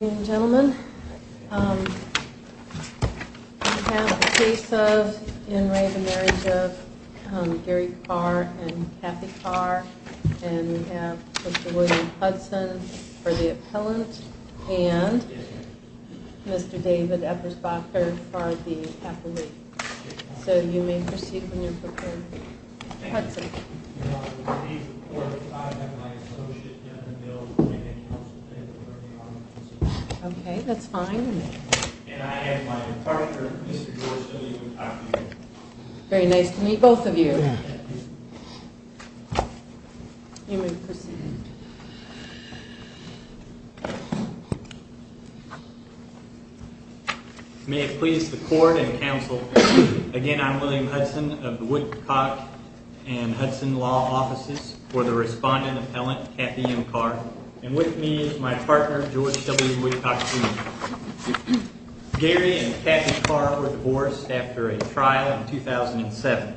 Ladies and gentlemen, we have the case of in re the marriage of Gary Carr and Kathy Carr and we have Mr. William Hudson for the appellant and Mr. David Eppersbacher for the appellate. So you may proceed when you're prepared. Okay, that's fine. Very nice to meet both of you. You may proceed. May it please the court and counsel, again I'm William Hudson of the Woodcock and Hudson Law Offices for the respondent appellant Kathy M. Carr and with me is my partner George W. Woodcock Jr. Gary and Kathy Carr were divorced after a trial in 2007.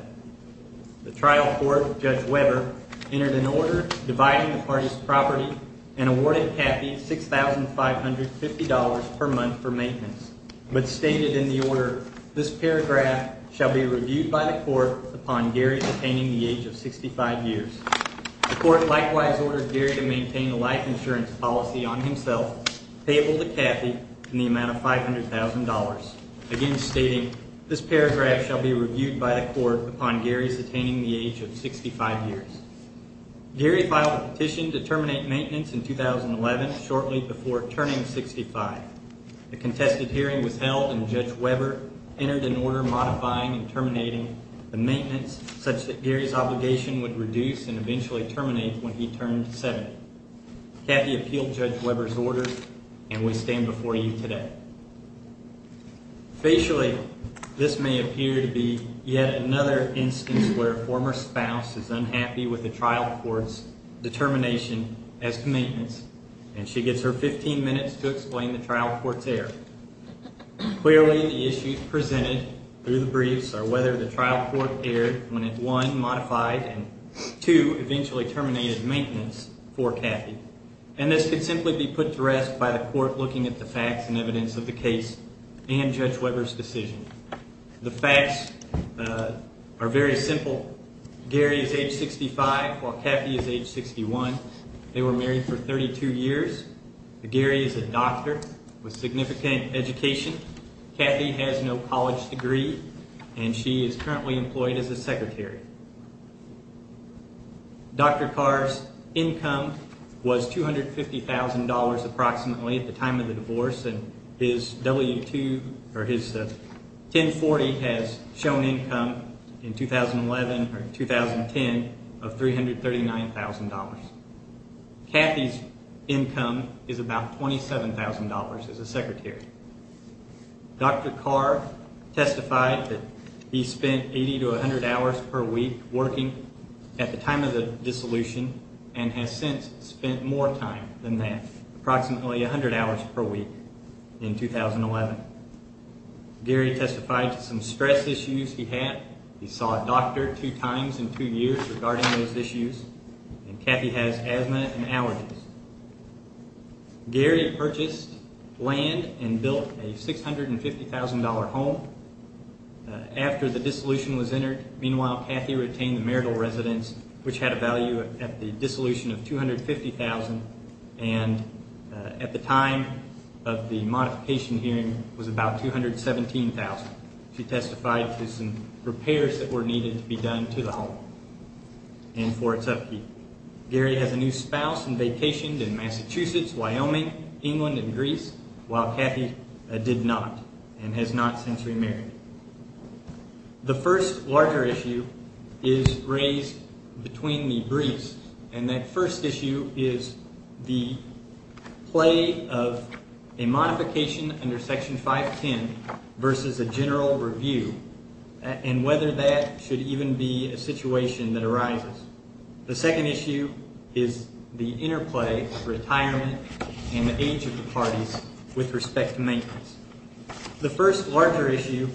The trial court, Judge Weber, entered an order dividing the parties' property and awarded Kathy $6,550 per month for maintenance but stated in the order, This paragraph shall be reviewed by the court upon Gary obtaining the age of 65 years. The court likewise ordered Gary to maintain a life insurance policy on himself, payable to Kathy in the amount of $500,000. Again stating, this paragraph shall be reviewed by the court upon Gary's attaining the age of 65 years. Gary filed a petition to terminate maintenance in 2011 shortly before turning 65. The contested hearing was held and Judge Weber entered an order modifying and terminating the maintenance such that Gary's obligation would reduce and eventually terminate when he turned 70. Kathy appealed Judge Weber's order and we stand before you today. Facially, this may appear to be yet another instance where a former spouse is unhappy with the trial court's determination as to maintenance and she gets her 15 minutes to explain the trial court's error. Clearly, the issues presented through the briefs are whether the trial court erred when it, one, modified and, two, eventually terminated maintenance for Kathy. And this could simply be put to rest by the court looking at the facts and evidence of the case and Judge Weber's decision. The facts are very simple. Gary is age 65 while Kathy is age 61. They were married for 32 years. Gary is a doctor with significant education. Kathy has no college degree and she is currently employed as a secretary. Dr. Carr's income was $250,000 approximately at the time of the divorce and his W-2 or his 1040 has shown income in 2011 or 2010 of $339,000. Kathy's income is about $27,000 as a secretary. Dr. Carr testified that he spent 80 to 100 hours per week working at the time of the dissolution and has since spent more time than that, approximately 100 hours per week in 2011. Gary testified to some stress issues he had. He saw a doctor two times in two years regarding those issues and Kathy has asthma and allergies. Gary purchased land and built a $650,000 home after the dissolution was entered. Meanwhile, Kathy retained the marital residence which had a value at the dissolution of $250,000 and at the time of the modification hearing was about $217,000. She testified to some repairs that were needed to be done to the home and for its upkeep. Gary has a new spouse and vacationed in Massachusetts, Wyoming, England and Greece while Kathy did not and has not since remarried. The first larger issue is raised between the briefs and that first issue is the play of a modification under Section 510 versus a general review and whether that should even be a situation that arises. The second issue is the interplay of retirement and the age of the parties with respect to maintenance. The first larger issue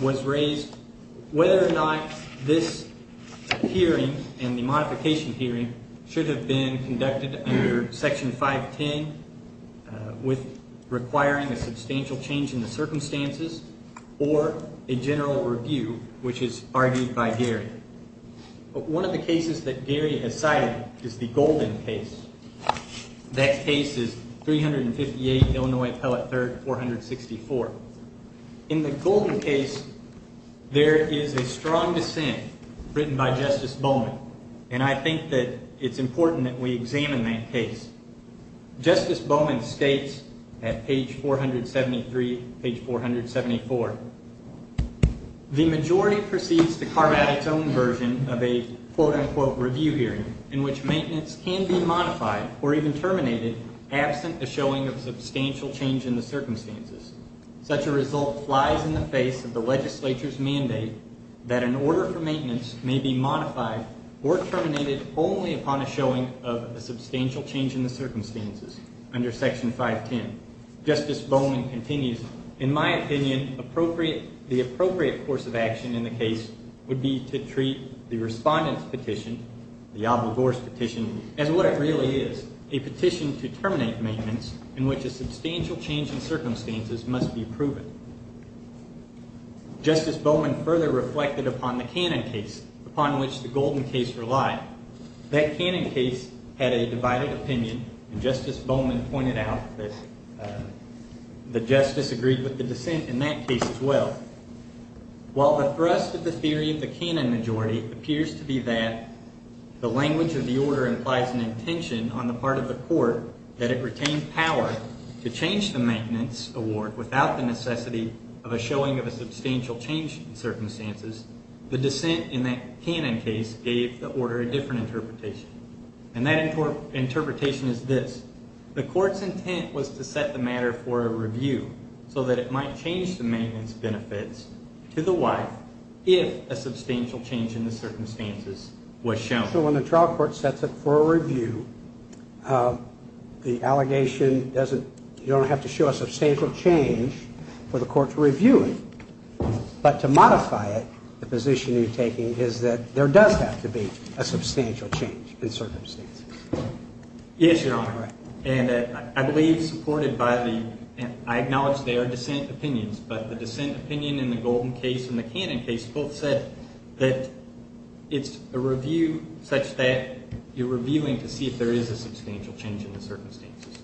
was raised whether or not this hearing and the modification hearing should have been conducted under Section 510 with requiring a substantial change in the circumstances or a general review which is argued by Gary. One of the cases that Gary has cited is the Golden case. That case is 358 Illinois Appellate 3rd 464. In the Golden case, there is a strong dissent written by Justice Bowman and I think that it's important that we examine that case. Justice Bowman states at page 473, page 474, the majority proceeds to carve out its own version of a quote unquote review hearing in which maintenance can be modified or even terminated absent a showing of substantial change in the circumstances. Such a result flies in the face of the legislature's mandate that an order for maintenance may be modified or terminated only upon a showing of a substantial change in the circumstances under Section 510. Justice Bowman continues, in my opinion, the appropriate course of action in the case would be to treat the respondent's petition, the obligor's petition, as what it really is, a petition to terminate maintenance in which a substantial change in circumstances must be proven. Justice Bowman further reflected upon the Cannon case, upon which the Golden case relied. That Cannon case had a divided opinion and Justice Bowman pointed out that the justice agreed with the dissent in that case as well. While the thrust of the theory of the Cannon majority appears to be that the language of the order implies an intention on the part of the court that it retain power to change the maintenance award without the necessity of a showing of a substantial change in circumstances, the dissent in that Cannon case gave the order a different interpretation. And that interpretation is this. The court's intent was to set the matter for a review so that it might change the maintenance benefits to the wife if a substantial change in the circumstances was shown. So when the trial court sets it for a review, the allegation doesn't, you don't have to show a substantial change for the court to review it. But to modify it, the position you're taking is that there does have to be a substantial change in circumstances. Yes, Your Honor. And I believe supported by the, I acknowledge there are dissent opinions, but the dissent opinion in the Golden case and the Cannon case both said that it's a review such that you're reviewing to see if there is a substantial change in the circumstances.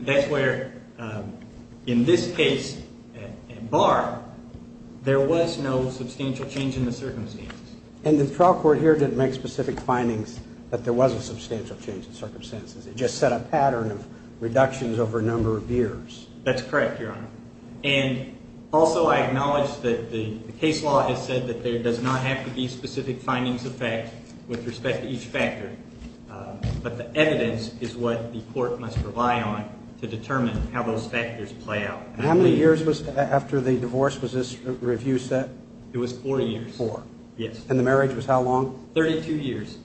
That's where in this case, in Barr, there was no substantial change in the circumstances. And the trial court here didn't make specific findings that there was a substantial change in circumstances. It just set a pattern of reductions over a number of years. That's correct, Your Honor. And also I acknowledge that the case law has said that there does not have to be specific findings of fact with respect to each factor. But the evidence is what the court must rely on to determine how those factors play out. And how many years after the divorce was this review set? It was four years. It was four. Yes. And the marriage was how long? Thirty-two years.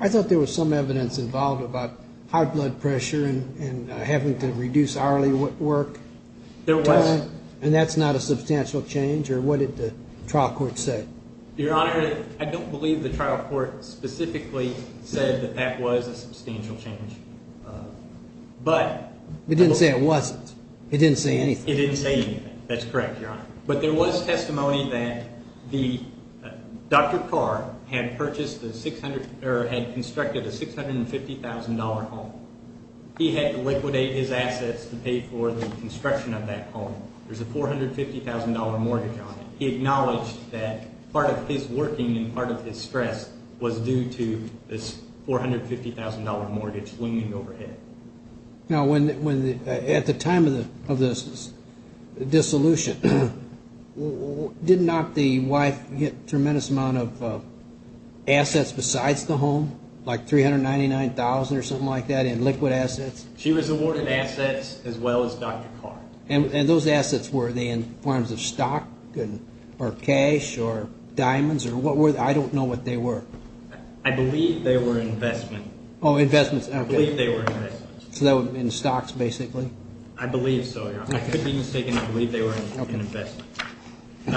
I thought there was some evidence involved about high blood pressure and having to reduce hourly work. There was. And that's not a substantial change? Or what did the trial court say? Your Honor, I don't believe the trial court specifically said that that was a substantial change. It didn't say it wasn't. It didn't say anything. It didn't say anything. That's correct, Your Honor. But there was testimony that Dr. Carr had constructed a $650,000 home. He had to liquidate his assets to pay for the construction of that home. There's a $450,000 mortgage on it. He acknowledged that part of his working and part of his stress was due to this $450,000 mortgage looming overhead. Now, at the time of this dissolution, did not the wife get a tremendous amount of assets besides the home, like $399,000 or something like that in liquid assets? She was awarded assets as well as Dr. Carr. And those assets, were they in forms of stock or cash or diamonds or what were they? I don't know what they were. I believe they were investments. Oh, investments. I believe they were investments. So in stocks, basically? I believe so, Your Honor. I could be mistaken. I believe they were an investment. Do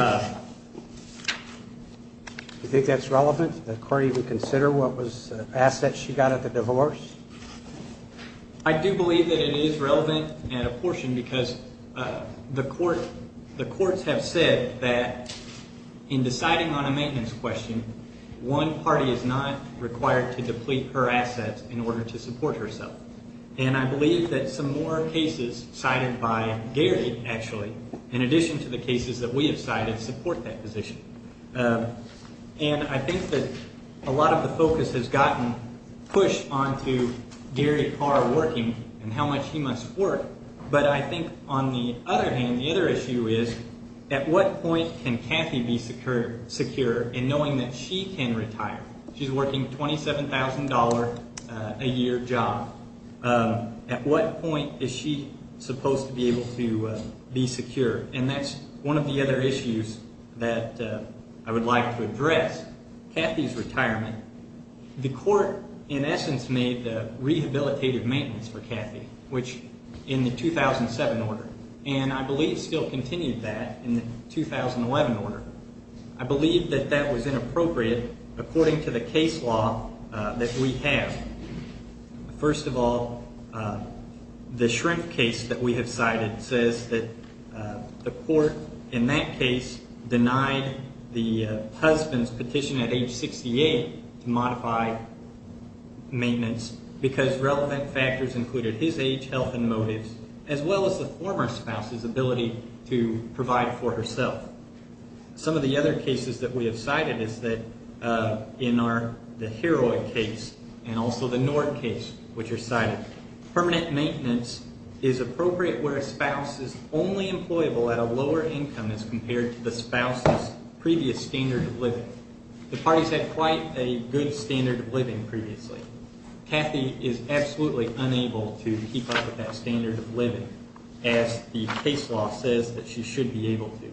you think that's relevant? The court even consider what was assets she got at the divorce? I do believe that it is relevant and a portion because the courts have said that in deciding on a maintenance question, one party is not required to deplete her assets in order to support herself. And I believe that some more cases cited by Gary, actually, in addition to the cases that we have cited, support that position. And I think that a lot of the focus has gotten pushed onto Gary Carr working and how much he must work. But I think on the other hand, the other issue is at what point can Kathy be secure in knowing that she can retire? She's working a $27,000 a year job. At what point is she supposed to be able to be secure? And that's one of the other issues that I would like to address. Kathy's retirement. The court, in essence, made the rehabilitative maintenance for Kathy, which in the 2007 order. And I believe still continued that in the 2011 order. I believe that that was inappropriate according to the case law that we have. First of all, the Shrimp case that we have cited says that the court in that case denied the husband's petition at age 68 to modify maintenance because relevant factors included his age, health, and motives, as well as the former spouse's ability to provide for herself. Some of the other cases that we have cited is that in the Heroid case and also the Nord case, which are cited, permanent maintenance is appropriate where a spouse is only employable at a lower income as compared to the spouse's previous standard of living. The parties had quite a good standard of living previously. Kathy is absolutely unable to keep up with that standard of living, as the case law says that she should be able to.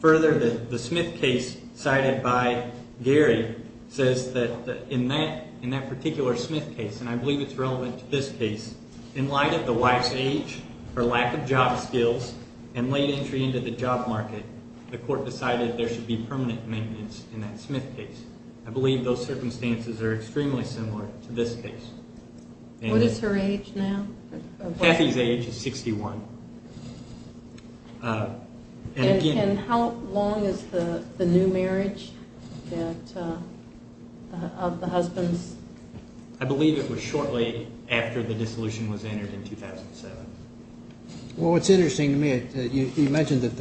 Further, the Smith case cited by Gary says that in that particular Smith case, and I believe it's relevant to this case, in light of the wife's age, her lack of job skills, and late entry into the job market, the court decided there should be permanent maintenance in that Smith case. I believe those circumstances are extremely similar to this case. What is her age now? Kathy's age is 61. And how long is the new marriage of the husbands? I believe it was shortly after the dissolution was entered in 2007. Well, what's interesting to me, you mentioned that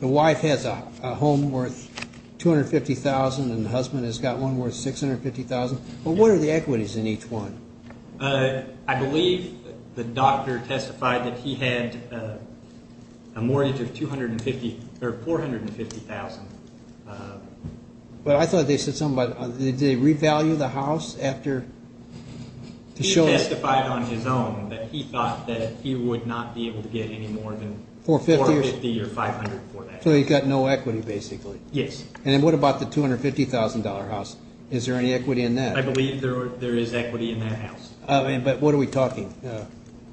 the wife has a home worth $250,000 and the husband has got one worth $650,000, but what are the equities in each one? I believe the doctor testified that he had a mortgage of $450,000. But I thought they said something about did they revalue the house after the show? He testified on his own that he thought that he would not be able to get any more than $450,000 or $500,000 for that. So he's got no equity, basically. Yes. And then what about the $250,000 house? Is there any equity in that? I believe there is equity in that house. But what are we talking?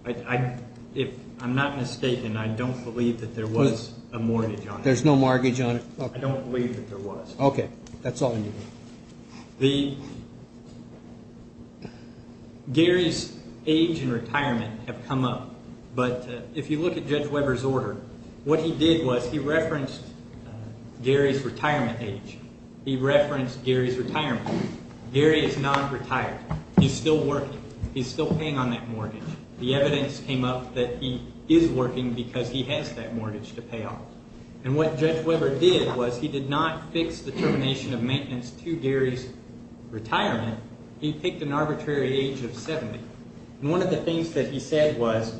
I'm not mistaken. I don't believe that there was a mortgage on it. There's no mortgage on it? I don't believe that there was. Okay. That's all you need. Gary's age and retirement have come up. But if you look at Judge Weber's order, what he did was he referenced Gary's retirement age. He referenced Gary's retirement. Gary is not retired. He's still working. He's still paying on that mortgage. The evidence came up that he is working because he has that mortgage to pay off. And what Judge Weber did was he did not fix the termination of maintenance to Gary's retirement. He picked an arbitrary age of 70. And one of the things that he said was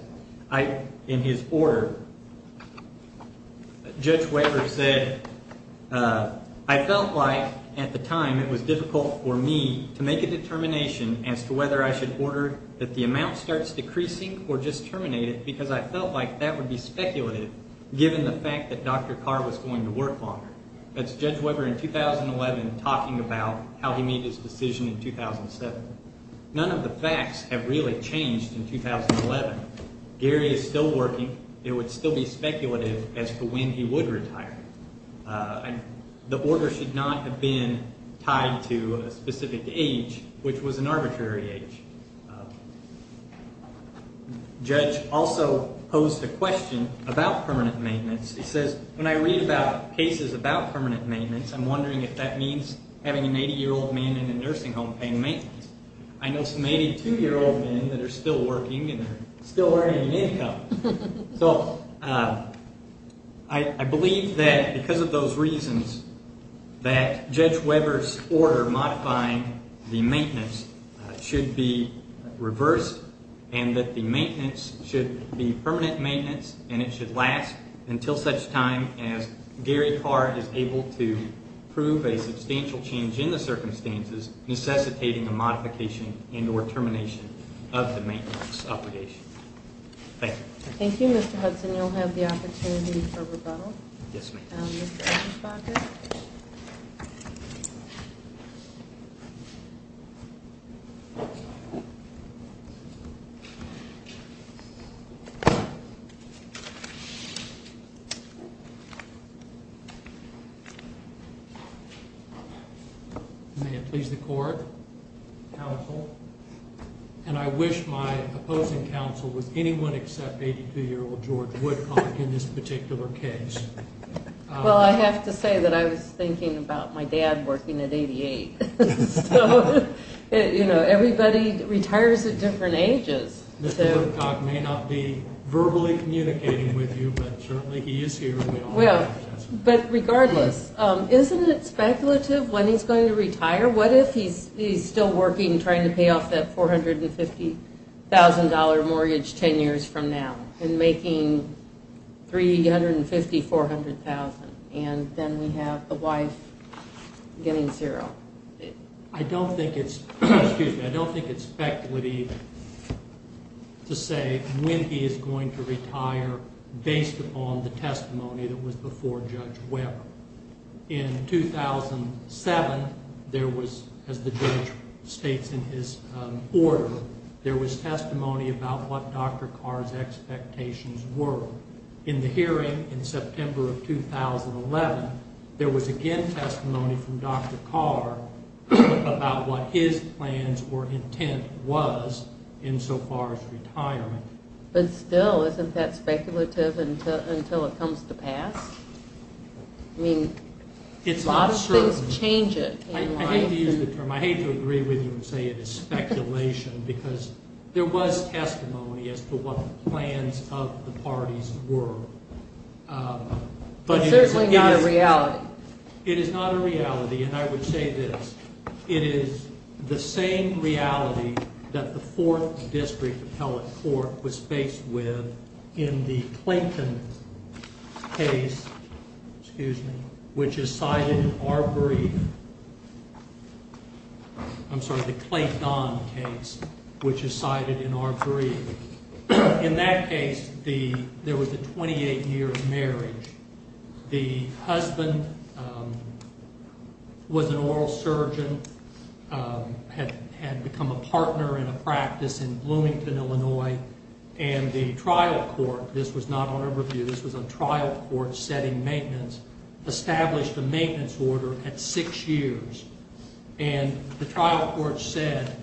in his order, Judge Weber said, I felt like at the time it was difficult for me to make a determination as to whether I should order that the amount starts decreasing or just terminate it because I felt like that would be speculative given the fact that Dr. Carr was going to work longer. That's Judge Weber in 2011 talking about how he made his decision in 2007. None of the facts have really changed in 2011. Gary is still working. It would still be speculative as to when he would retire. The order should not have been tied to a specific age, which was an arbitrary age. Judge also posed a question about permanent maintenance. He says, when I read about cases about permanent maintenance, I'm wondering if that means having an 80-year-old man in a nursing home paying maintenance. I know some 82-year-old men that are still working and they're still earning an income. So I believe that because of those reasons that Judge Weber's order modifying the maintenance should be reversed and that the maintenance should be permanent maintenance and it should last until such time as Gary Carr is able to prove a substantial change in the circumstances necessitating a modification and or termination of the maintenance obligation. Thank you. Thank you, Mr. Hudson. You'll have the opportunity for rebuttal. Yes, ma'am. Thank you, Mr. Edmonds-Bobbitt. May it please the Court. Counsel. And I wish my opposing counsel would anyone except 82-year-old George Woodcock in this particular case. Well, I have to say that I was thinking about my dad working at 88. So, you know, everybody retires at different ages. Mr. Woodcock may not be verbally communicating with you, but certainly he is here. But regardless, isn't it speculative when he's going to retire? What if he's still working and trying to pay off that $450,000 mortgage 10 years from now and making $350,000, $400,000, and then we have the wife getting zero? I don't think it's speculative to say when he is going to retire based upon the testimony that was before Judge Weber. In 2007, there was, as the judge states in his order, there was testimony about what Dr. Carr's expectations were. In the hearing in September of 2011, there was again testimony from Dr. Carr about what his plans or intent was insofar as retirement. But still, isn't that speculative until it comes to pass? I mean, a lot of things change it. I hate to use the term. I hate to agree with you and say it is speculation because there was testimony as to what the plans of the parties were. But it's certainly not a reality. It is not a reality. And I would say this. It is the same reality that the Fourth District Appellate Court was faced with in the Clayton case, which is cited in our brief. I'm sorry, the Clayton case, which is cited in our brief. In that case, there was a 28-year marriage. The husband was an oral surgeon, had become a partner in a practice in Bloomington, Illinois. And the trial court, this was not on our review, this was a trial court setting maintenance, established a maintenance order at six years. And the trial court said,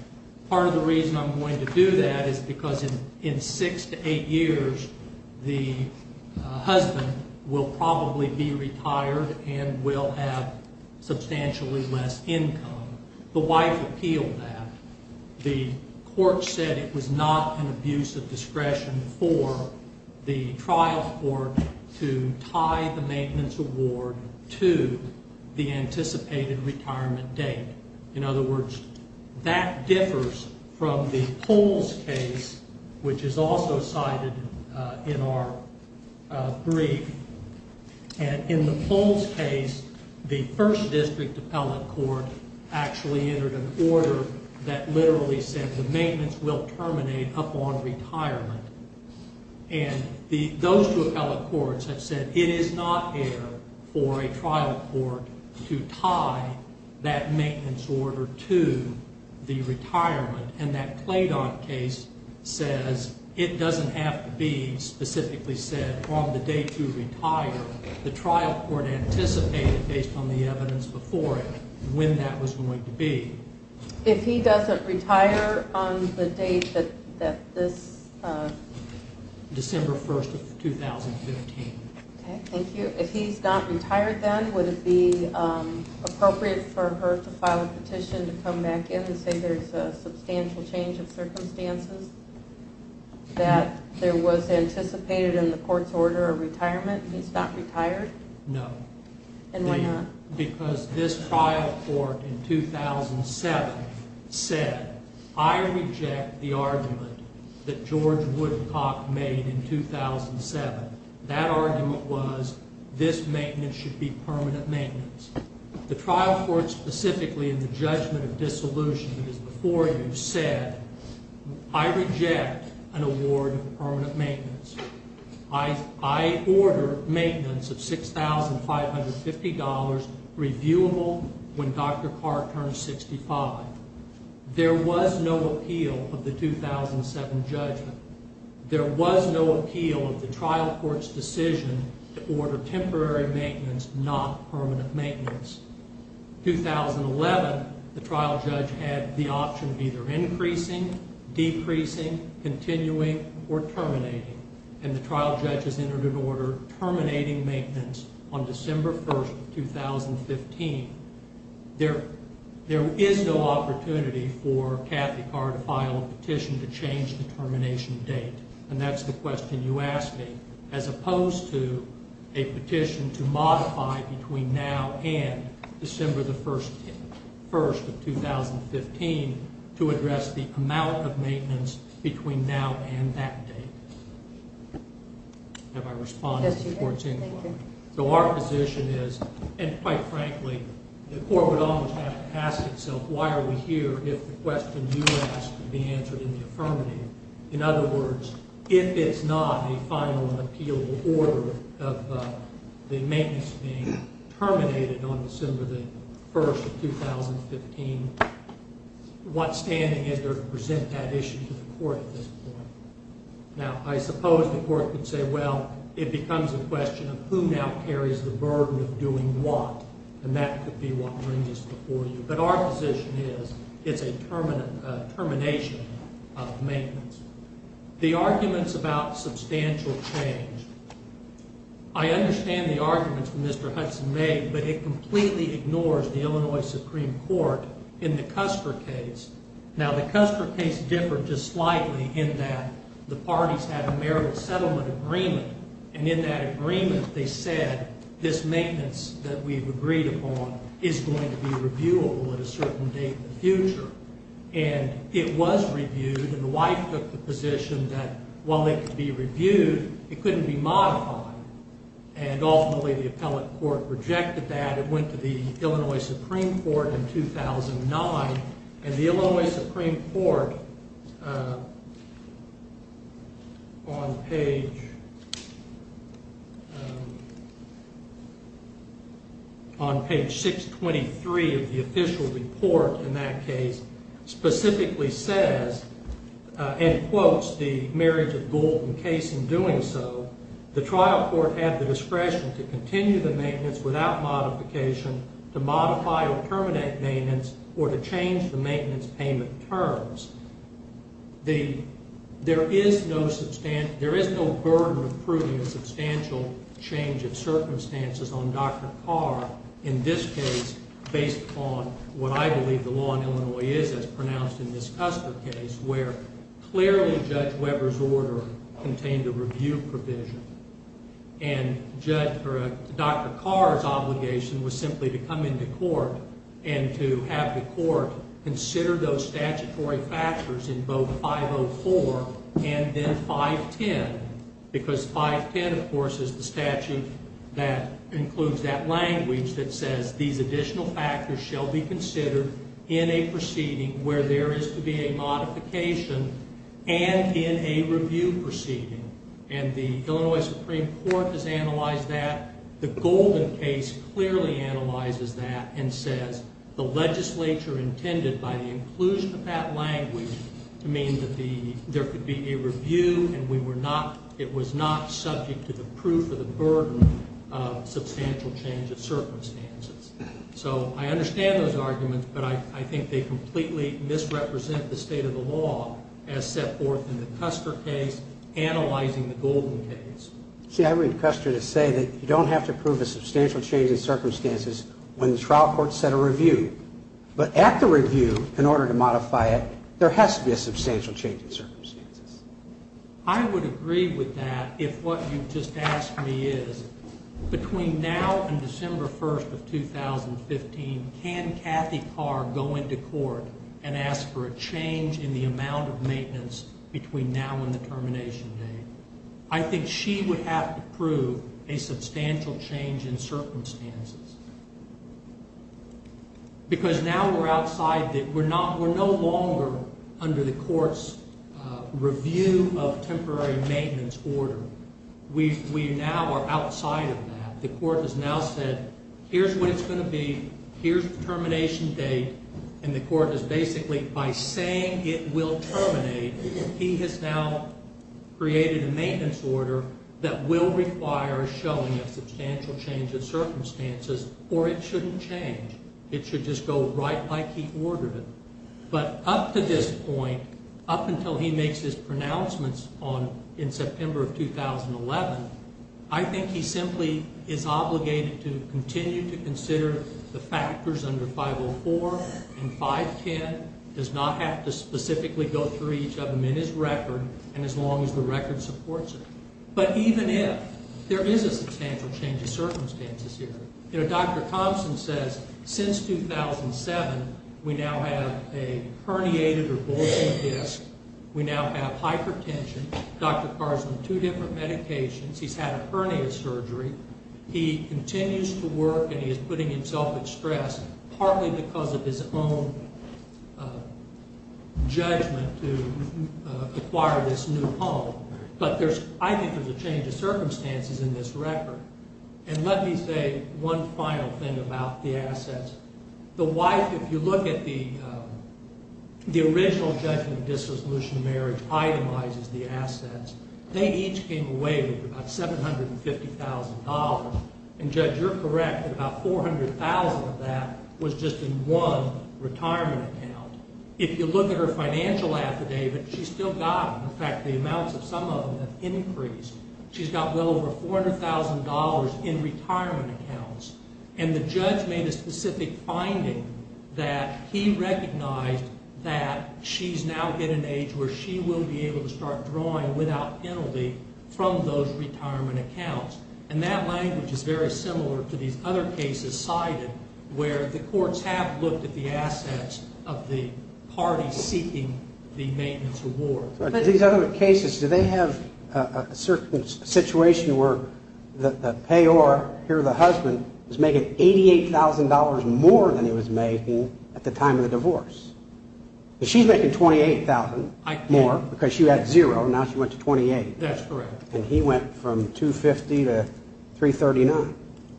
part of the reason I'm going to do that is because in six to eight years, the husband will probably be retired and will have substantially less income. The wife appealed that. The court said it was not an abuse of discretion for the trial court to tie the maintenance award to the anticipated retirement date. In other words, that differs from the Pohl's case, which is also cited in our brief. And in the Pohl's case, the First District Appellate Court actually entered an order that literally said the maintenance will terminate upon retirement. And those two appellate courts have said it is not fair for a trial court to tie that maintenance order to the retirement. And that Claydon case says it doesn't have to be specifically said on the date to retire. The trial court anticipated, based on the evidence before it, when that was going to be. If he doesn't retire on the date that this... December 1st of 2015. Thank you. If he's not retired then, would it be appropriate for her to file a petition to come back in and say there's a substantial change of circumstances? That there was anticipated in the court's order a retirement and he's not retired? No. And why not? Because this trial court in 2007 said, I reject the argument that George Woodcock made in 2007. That argument was this maintenance should be permanent maintenance. The trial court specifically in the judgment of dissolution that is before you said, I reject an award of permanent maintenance. I order maintenance of $6,550, reviewable when Dr. Carr turns 65. There was no appeal of the 2007 judgment. There was no appeal of the trial court's decision to order temporary maintenance, not permanent maintenance. 2011, the trial judge had the option of either increasing, decreasing, continuing, or terminating. And the trial judge has entered an order terminating maintenance on December 1st of 2015. There is no opportunity for Kathy Carr to file a petition to change the termination date. And that's the question you asked me. As opposed to a petition to modify between now and December 1st of 2015 to address the amount of maintenance between now and that date. Have I responded to the court's inquiry? Yes, you have. Thank you. So our position is, and quite frankly, the court would almost have to ask itself, why are we here if the question you asked would be answered in the affirmative? In other words, if it's not a final and appealable order of the maintenance being terminated on December 1st of 2015, what standing is there to present that issue to the court at this point? Now, I suppose the court could say, well, it becomes a question of who now carries the burden of doing what. And that could be what brings this before you. But our position is it's a termination of maintenance. The arguments about substantial change, I understand the arguments that Mr. Hudson made, but it completely ignores the Illinois Supreme Court in the Custer case. Now, the Custer case differed just slightly in that the parties had a marital settlement agreement, and in that agreement they said this maintenance that we've agreed upon is going to be reviewable at a certain date in the future. And it was reviewed, and the wife took the position that while it could be reviewed, it couldn't be modified. And ultimately the appellate court rejected that. It went to the Illinois Supreme Court in 2009, and the Illinois Supreme Court on page 623 of the official report in that case specifically says, and quotes the marriage of Gould and Case in doing so, the trial court had the discretion to continue the maintenance without modification, to modify or terminate maintenance, or to change the maintenance payment terms. There is no burden of proving a substantial change of circumstances on Dr. Carr in this case based upon what I believe the law in Illinois is as pronounced in this Custer case where clearly Judge Weber's order contained a review provision. And Dr. Carr's obligation was simply to come into court and to have the court consider those statutory factors in both 504 and then 510, because 510, of course, is the statute that includes that language that says these additional factors shall be considered in a proceeding where there is to be a modification and in a review proceeding. And the Illinois Supreme Court has analyzed that. The Gould and Case clearly analyzes that and says the legislature intended by the inclusion of that language to mean that there could be a review and it was not subject to the proof of the burden of substantial change of circumstances. So I understand those arguments, but I think they completely misrepresent the state of the law as set forth in the Custer case analyzing the Gould and Case. See, I read Custer to say that you don't have to prove a substantial change in circumstances when the trial court set a review. But at the review, in order to modify it, there has to be a substantial change in circumstances. I would agree with that if what you've just asked me is between now and December 1st of 2015, can Kathy Carr go into court and ask for a change in the amount of maintenance between now and the termination date? I think she would have to prove a substantial change in circumstances. Because now we're outside the—we're no longer under the court's review of temporary maintenance order. We now are outside of that. The court has now said, here's what it's going to be, here's the termination date, and the court is basically, by saying it will terminate, he has now created a maintenance order that will require a showing of substantial change in circumstances, or it shouldn't change, it should just go right like he ordered it. But up to this point, up until he makes his pronouncements in September of 2011, I think he simply is obligated to continue to consider the factors under 504 and 510, does not have to specifically go through each of them in his record, and as long as the record supports it. But even if there is a substantial change in circumstances here, you know, Dr. Thompson says, since 2007, we now have a herniated or bulging disc, we now have hypertension, Dr. Carr's on two different medications, he's had a hernia surgery, he continues to work and he is putting himself at stress partly because of his own judgment to acquire this new home. But I think there's a change of circumstances in this record. And let me say one final thing about the assets. The wife, if you look at the original judgment of disresolution of marriage itemizes the assets, they each came away with about $750,000, and Judge, you're correct, about $400,000 of that was just in one retirement account. If you look at her financial affidavit, she's still got them. In fact, the amounts of some of them have increased. She's got well over $400,000 in retirement accounts. And the judge made a specific finding that he recognized that she's now in an age where she will be able to start drawing without penalty from those retirement accounts. And that language is very similar to these other cases cited where the courts have looked at the assets of the parties seeking the maintenance award. These other cases, do they have a situation where the payor, here the husband, is making $88,000 more than he was making at the time of the divorce? She's making $28,000 more because she had zero and now she went to $28,000. That's correct. And he went from $250,000 to $339,000.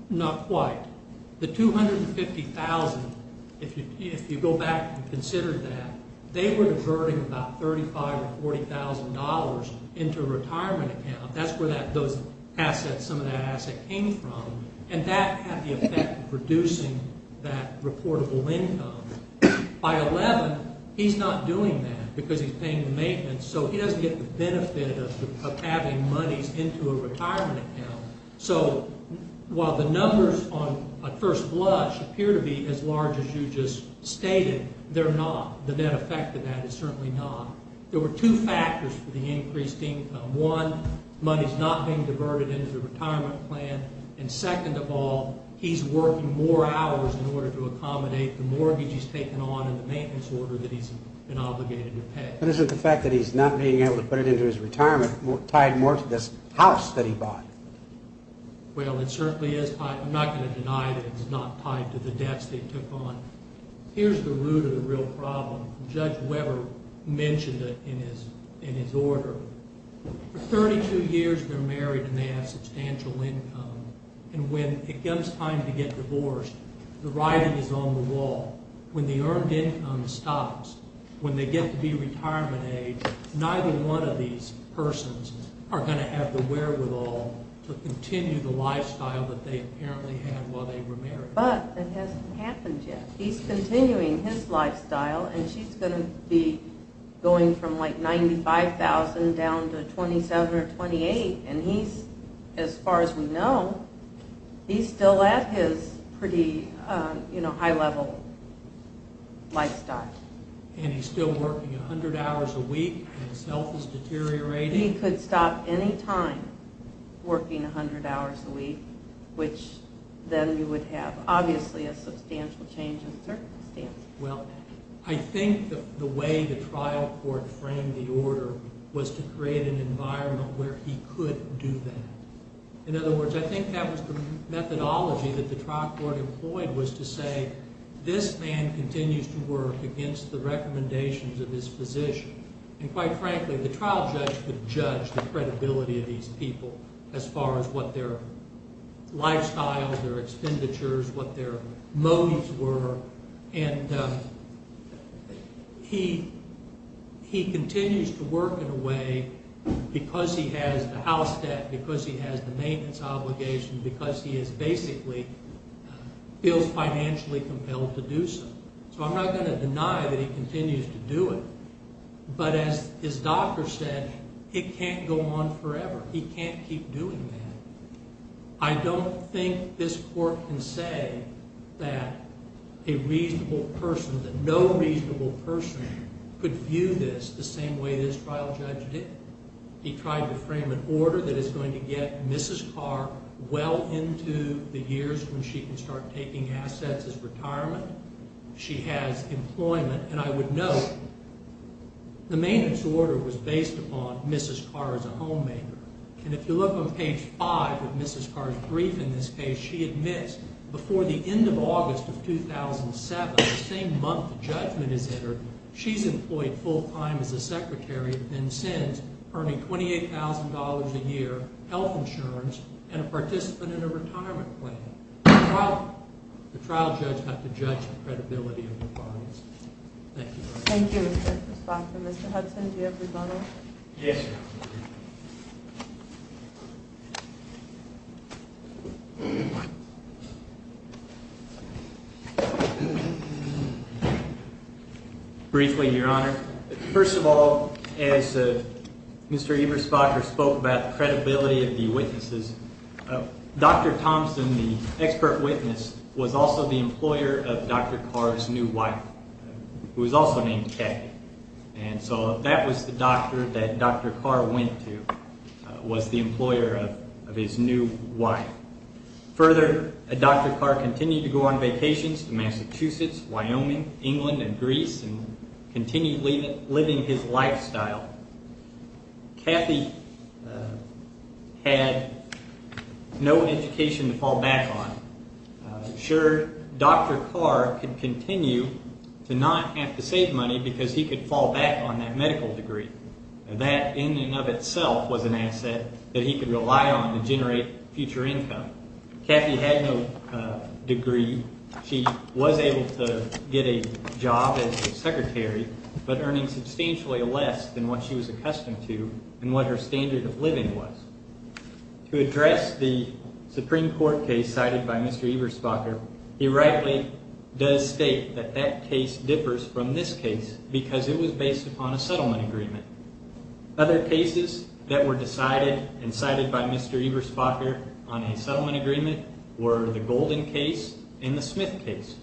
Not quite. The $250,000, if you go back and consider that, they were diverting about $35,000 or $40,000 into a retirement account. That's where some of that asset came from. And that had the effect of reducing that reportable income. By 11, he's not doing that because he's paying the maintenance, so he doesn't get the benefit of having monies into a retirement account. So while the numbers at first blush appear to be as large as you just stated, they're not. The net effect of that is certainly not. There were two factors for the increased income. One, money's not being diverted into the retirement plan. And second of all, he's working more hours in order to accommodate the mortgage he's taken on and the maintenance order that he's been obligated to pay. But isn't the fact that he's not being able to put it into his retirement tied more to this house that he bought? Well, it certainly is tied. I'm not going to deny that it's not tied to the debts they took on. Here's the root of the real problem. Judge Weber mentioned it in his order. For 32 years, they're married and they have substantial income. And when it comes time to get divorced, the writing is on the wall. When the earned income stops, when they get to be retirement age, neither one of these persons are going to have the wherewithal to continue the lifestyle that they apparently had while they were married. But it hasn't happened yet. He's continuing his lifestyle, and she's going to be going from like $95,000 down to $27,000 or $28,000. As far as we know, he's still at his pretty high-level lifestyle. And he's still working 100 hours a week and his health is deteriorating? He could stop any time working 100 hours a week, which then you would have obviously a substantial change in circumstances. Well, I think the way the trial court framed the order was to create an environment where he could do that. In other words, I think that was the methodology that the trial court employed was to say, this man continues to work against the recommendations of his physician. And quite frankly, the trial judge could judge the credibility of these people as far as what their lifestyle, their expenditures, what their motives were. And he continues to work in a way, because he has the house debt, because he has the maintenance obligation, because he basically feels financially compelled to do so. So I'm not going to deny that he continues to do it. But as his doctor said, it can't go on forever. He can't keep doing that. I don't think this court can say that a reasonable person, that no reasonable person, could view this the same way this trial judge did. He tried to frame an order that is going to get Mrs. Carr well into the years when she can start taking assets as retirement. She has employment. And I would note, the maintenance order was based upon Mrs. Carr as a homemaker. And if you look on page 5 of Mrs. Carr's brief in this case, she admits, before the end of August of 2007, the same month the judgment is entered, she's employed full-time as a secretary and since, earning $28,000 a year, health insurance, and a participant in a retirement plan. The trial judge had to judge the credibility of the clients. Thank you very much. Thank you, Mr. Spock. And Mr. Hudson, do you have rebuttal? Yes, Your Honor. Briefly, Your Honor, first of all, as Mr. Eberspacher spoke about the credibility of the witnesses, Dr. Thompson, the expert witness, was also the employer of Dr. Carr's new wife, who was also named Kay. And so that was the doctor that Dr. Carr went to, was the employer of his new wife. Further, Dr. Carr continued to go on vacations to Massachusetts, Wyoming, England, and Greece, and continued living his lifestyle. Kathy had no education to fall back on. Sure, Dr. Carr could continue to not have to save money because he could fall back on that medical degree. That, in and of itself, was an asset that he could rely on to generate future income. Kathy had no degree. She was able to get a job as a secretary, but earning substantially less than what she was accustomed to and what her standard of living was. To address the Supreme Court case cited by Mr. Eberspacher, he rightly does state that that case differs from this case because it was based upon a settlement agreement. Other cases that were decided and cited by Mr. Eberspacher on a settlement agreement were the Golden case and the Smith case.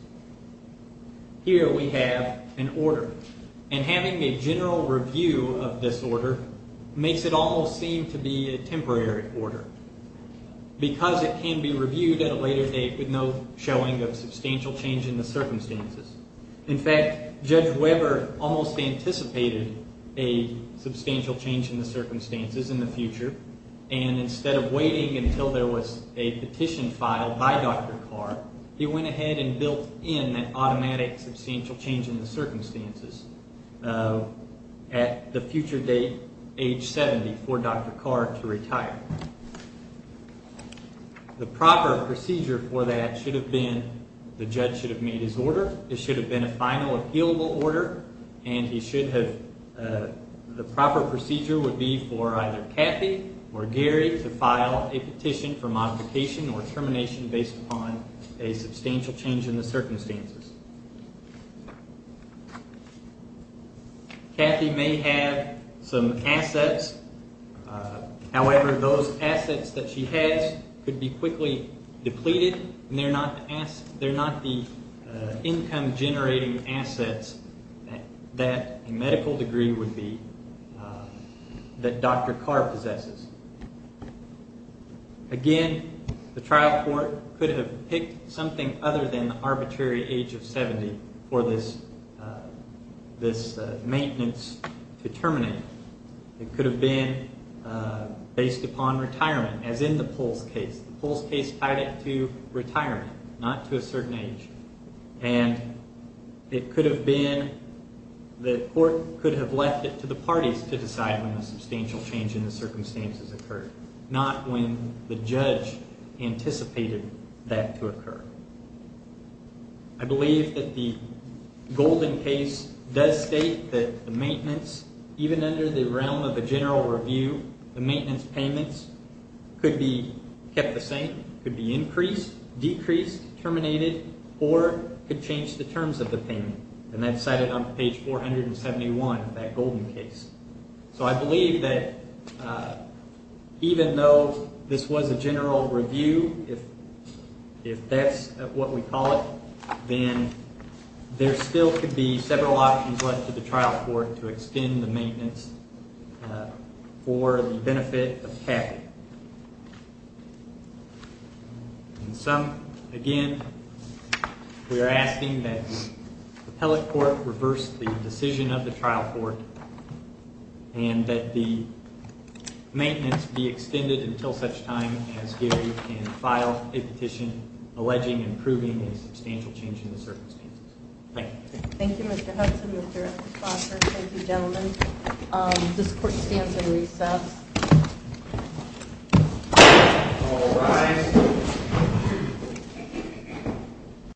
Here we have an order. Having a general review of this order makes it all seem to be a temporary order because it can be reviewed at a later date with no showing of substantial change in the circumstances. In fact, Judge Weber almost anticipated a substantial change in the circumstances in the future. Instead of waiting until there was a petition filed by Dr. Carr, he went ahead and built in that automatic substantial change in the circumstances at the future date, age 70, for Dr. Carr to retire. The proper procedure for that should have been the judge should have made his order. It should have been a final, appealable order, and the proper procedure would be for either Kathy or Gary to file a petition for modification or termination based upon a substantial change in the circumstances. Kathy may have some assets. However, those assets that she has could be quickly depleted, and they're not the income-generating assets that a medical degree would be that Dr. Carr possesses. Again, the trial court could have picked something other than the arbitrary age of 70 for this maintenance to terminate. It could have been based upon retirement, as in the Pulse case. The Pulse case tied it to retirement, not to a certain age, and the court could have left it to the parties to decide when a substantial change in the circumstances occurred, not when the judge anticipated that to occur. I believe that the Golden case does state that the maintenance, even under the realm of a general review, the maintenance payments could be kept the same, could be increased, decreased, terminated, or could change the terms of the payment, and that's cited on page 471 of that Golden case. So I believe that even though this was a general review, if that's what we call it, then there still could be several options left to the trial court to extend the maintenance for the benefit of Kathy. Again, we are asking that the appellate court reverse the decision of the trial court and that the maintenance be extended until such time as Gary can file a petition alleging and proving a substantial change in the circumstances. Thank you. Thank you, Mr. Hudson. Mr. Foster, thank you, gentlemen. This court stands in recess. All rise.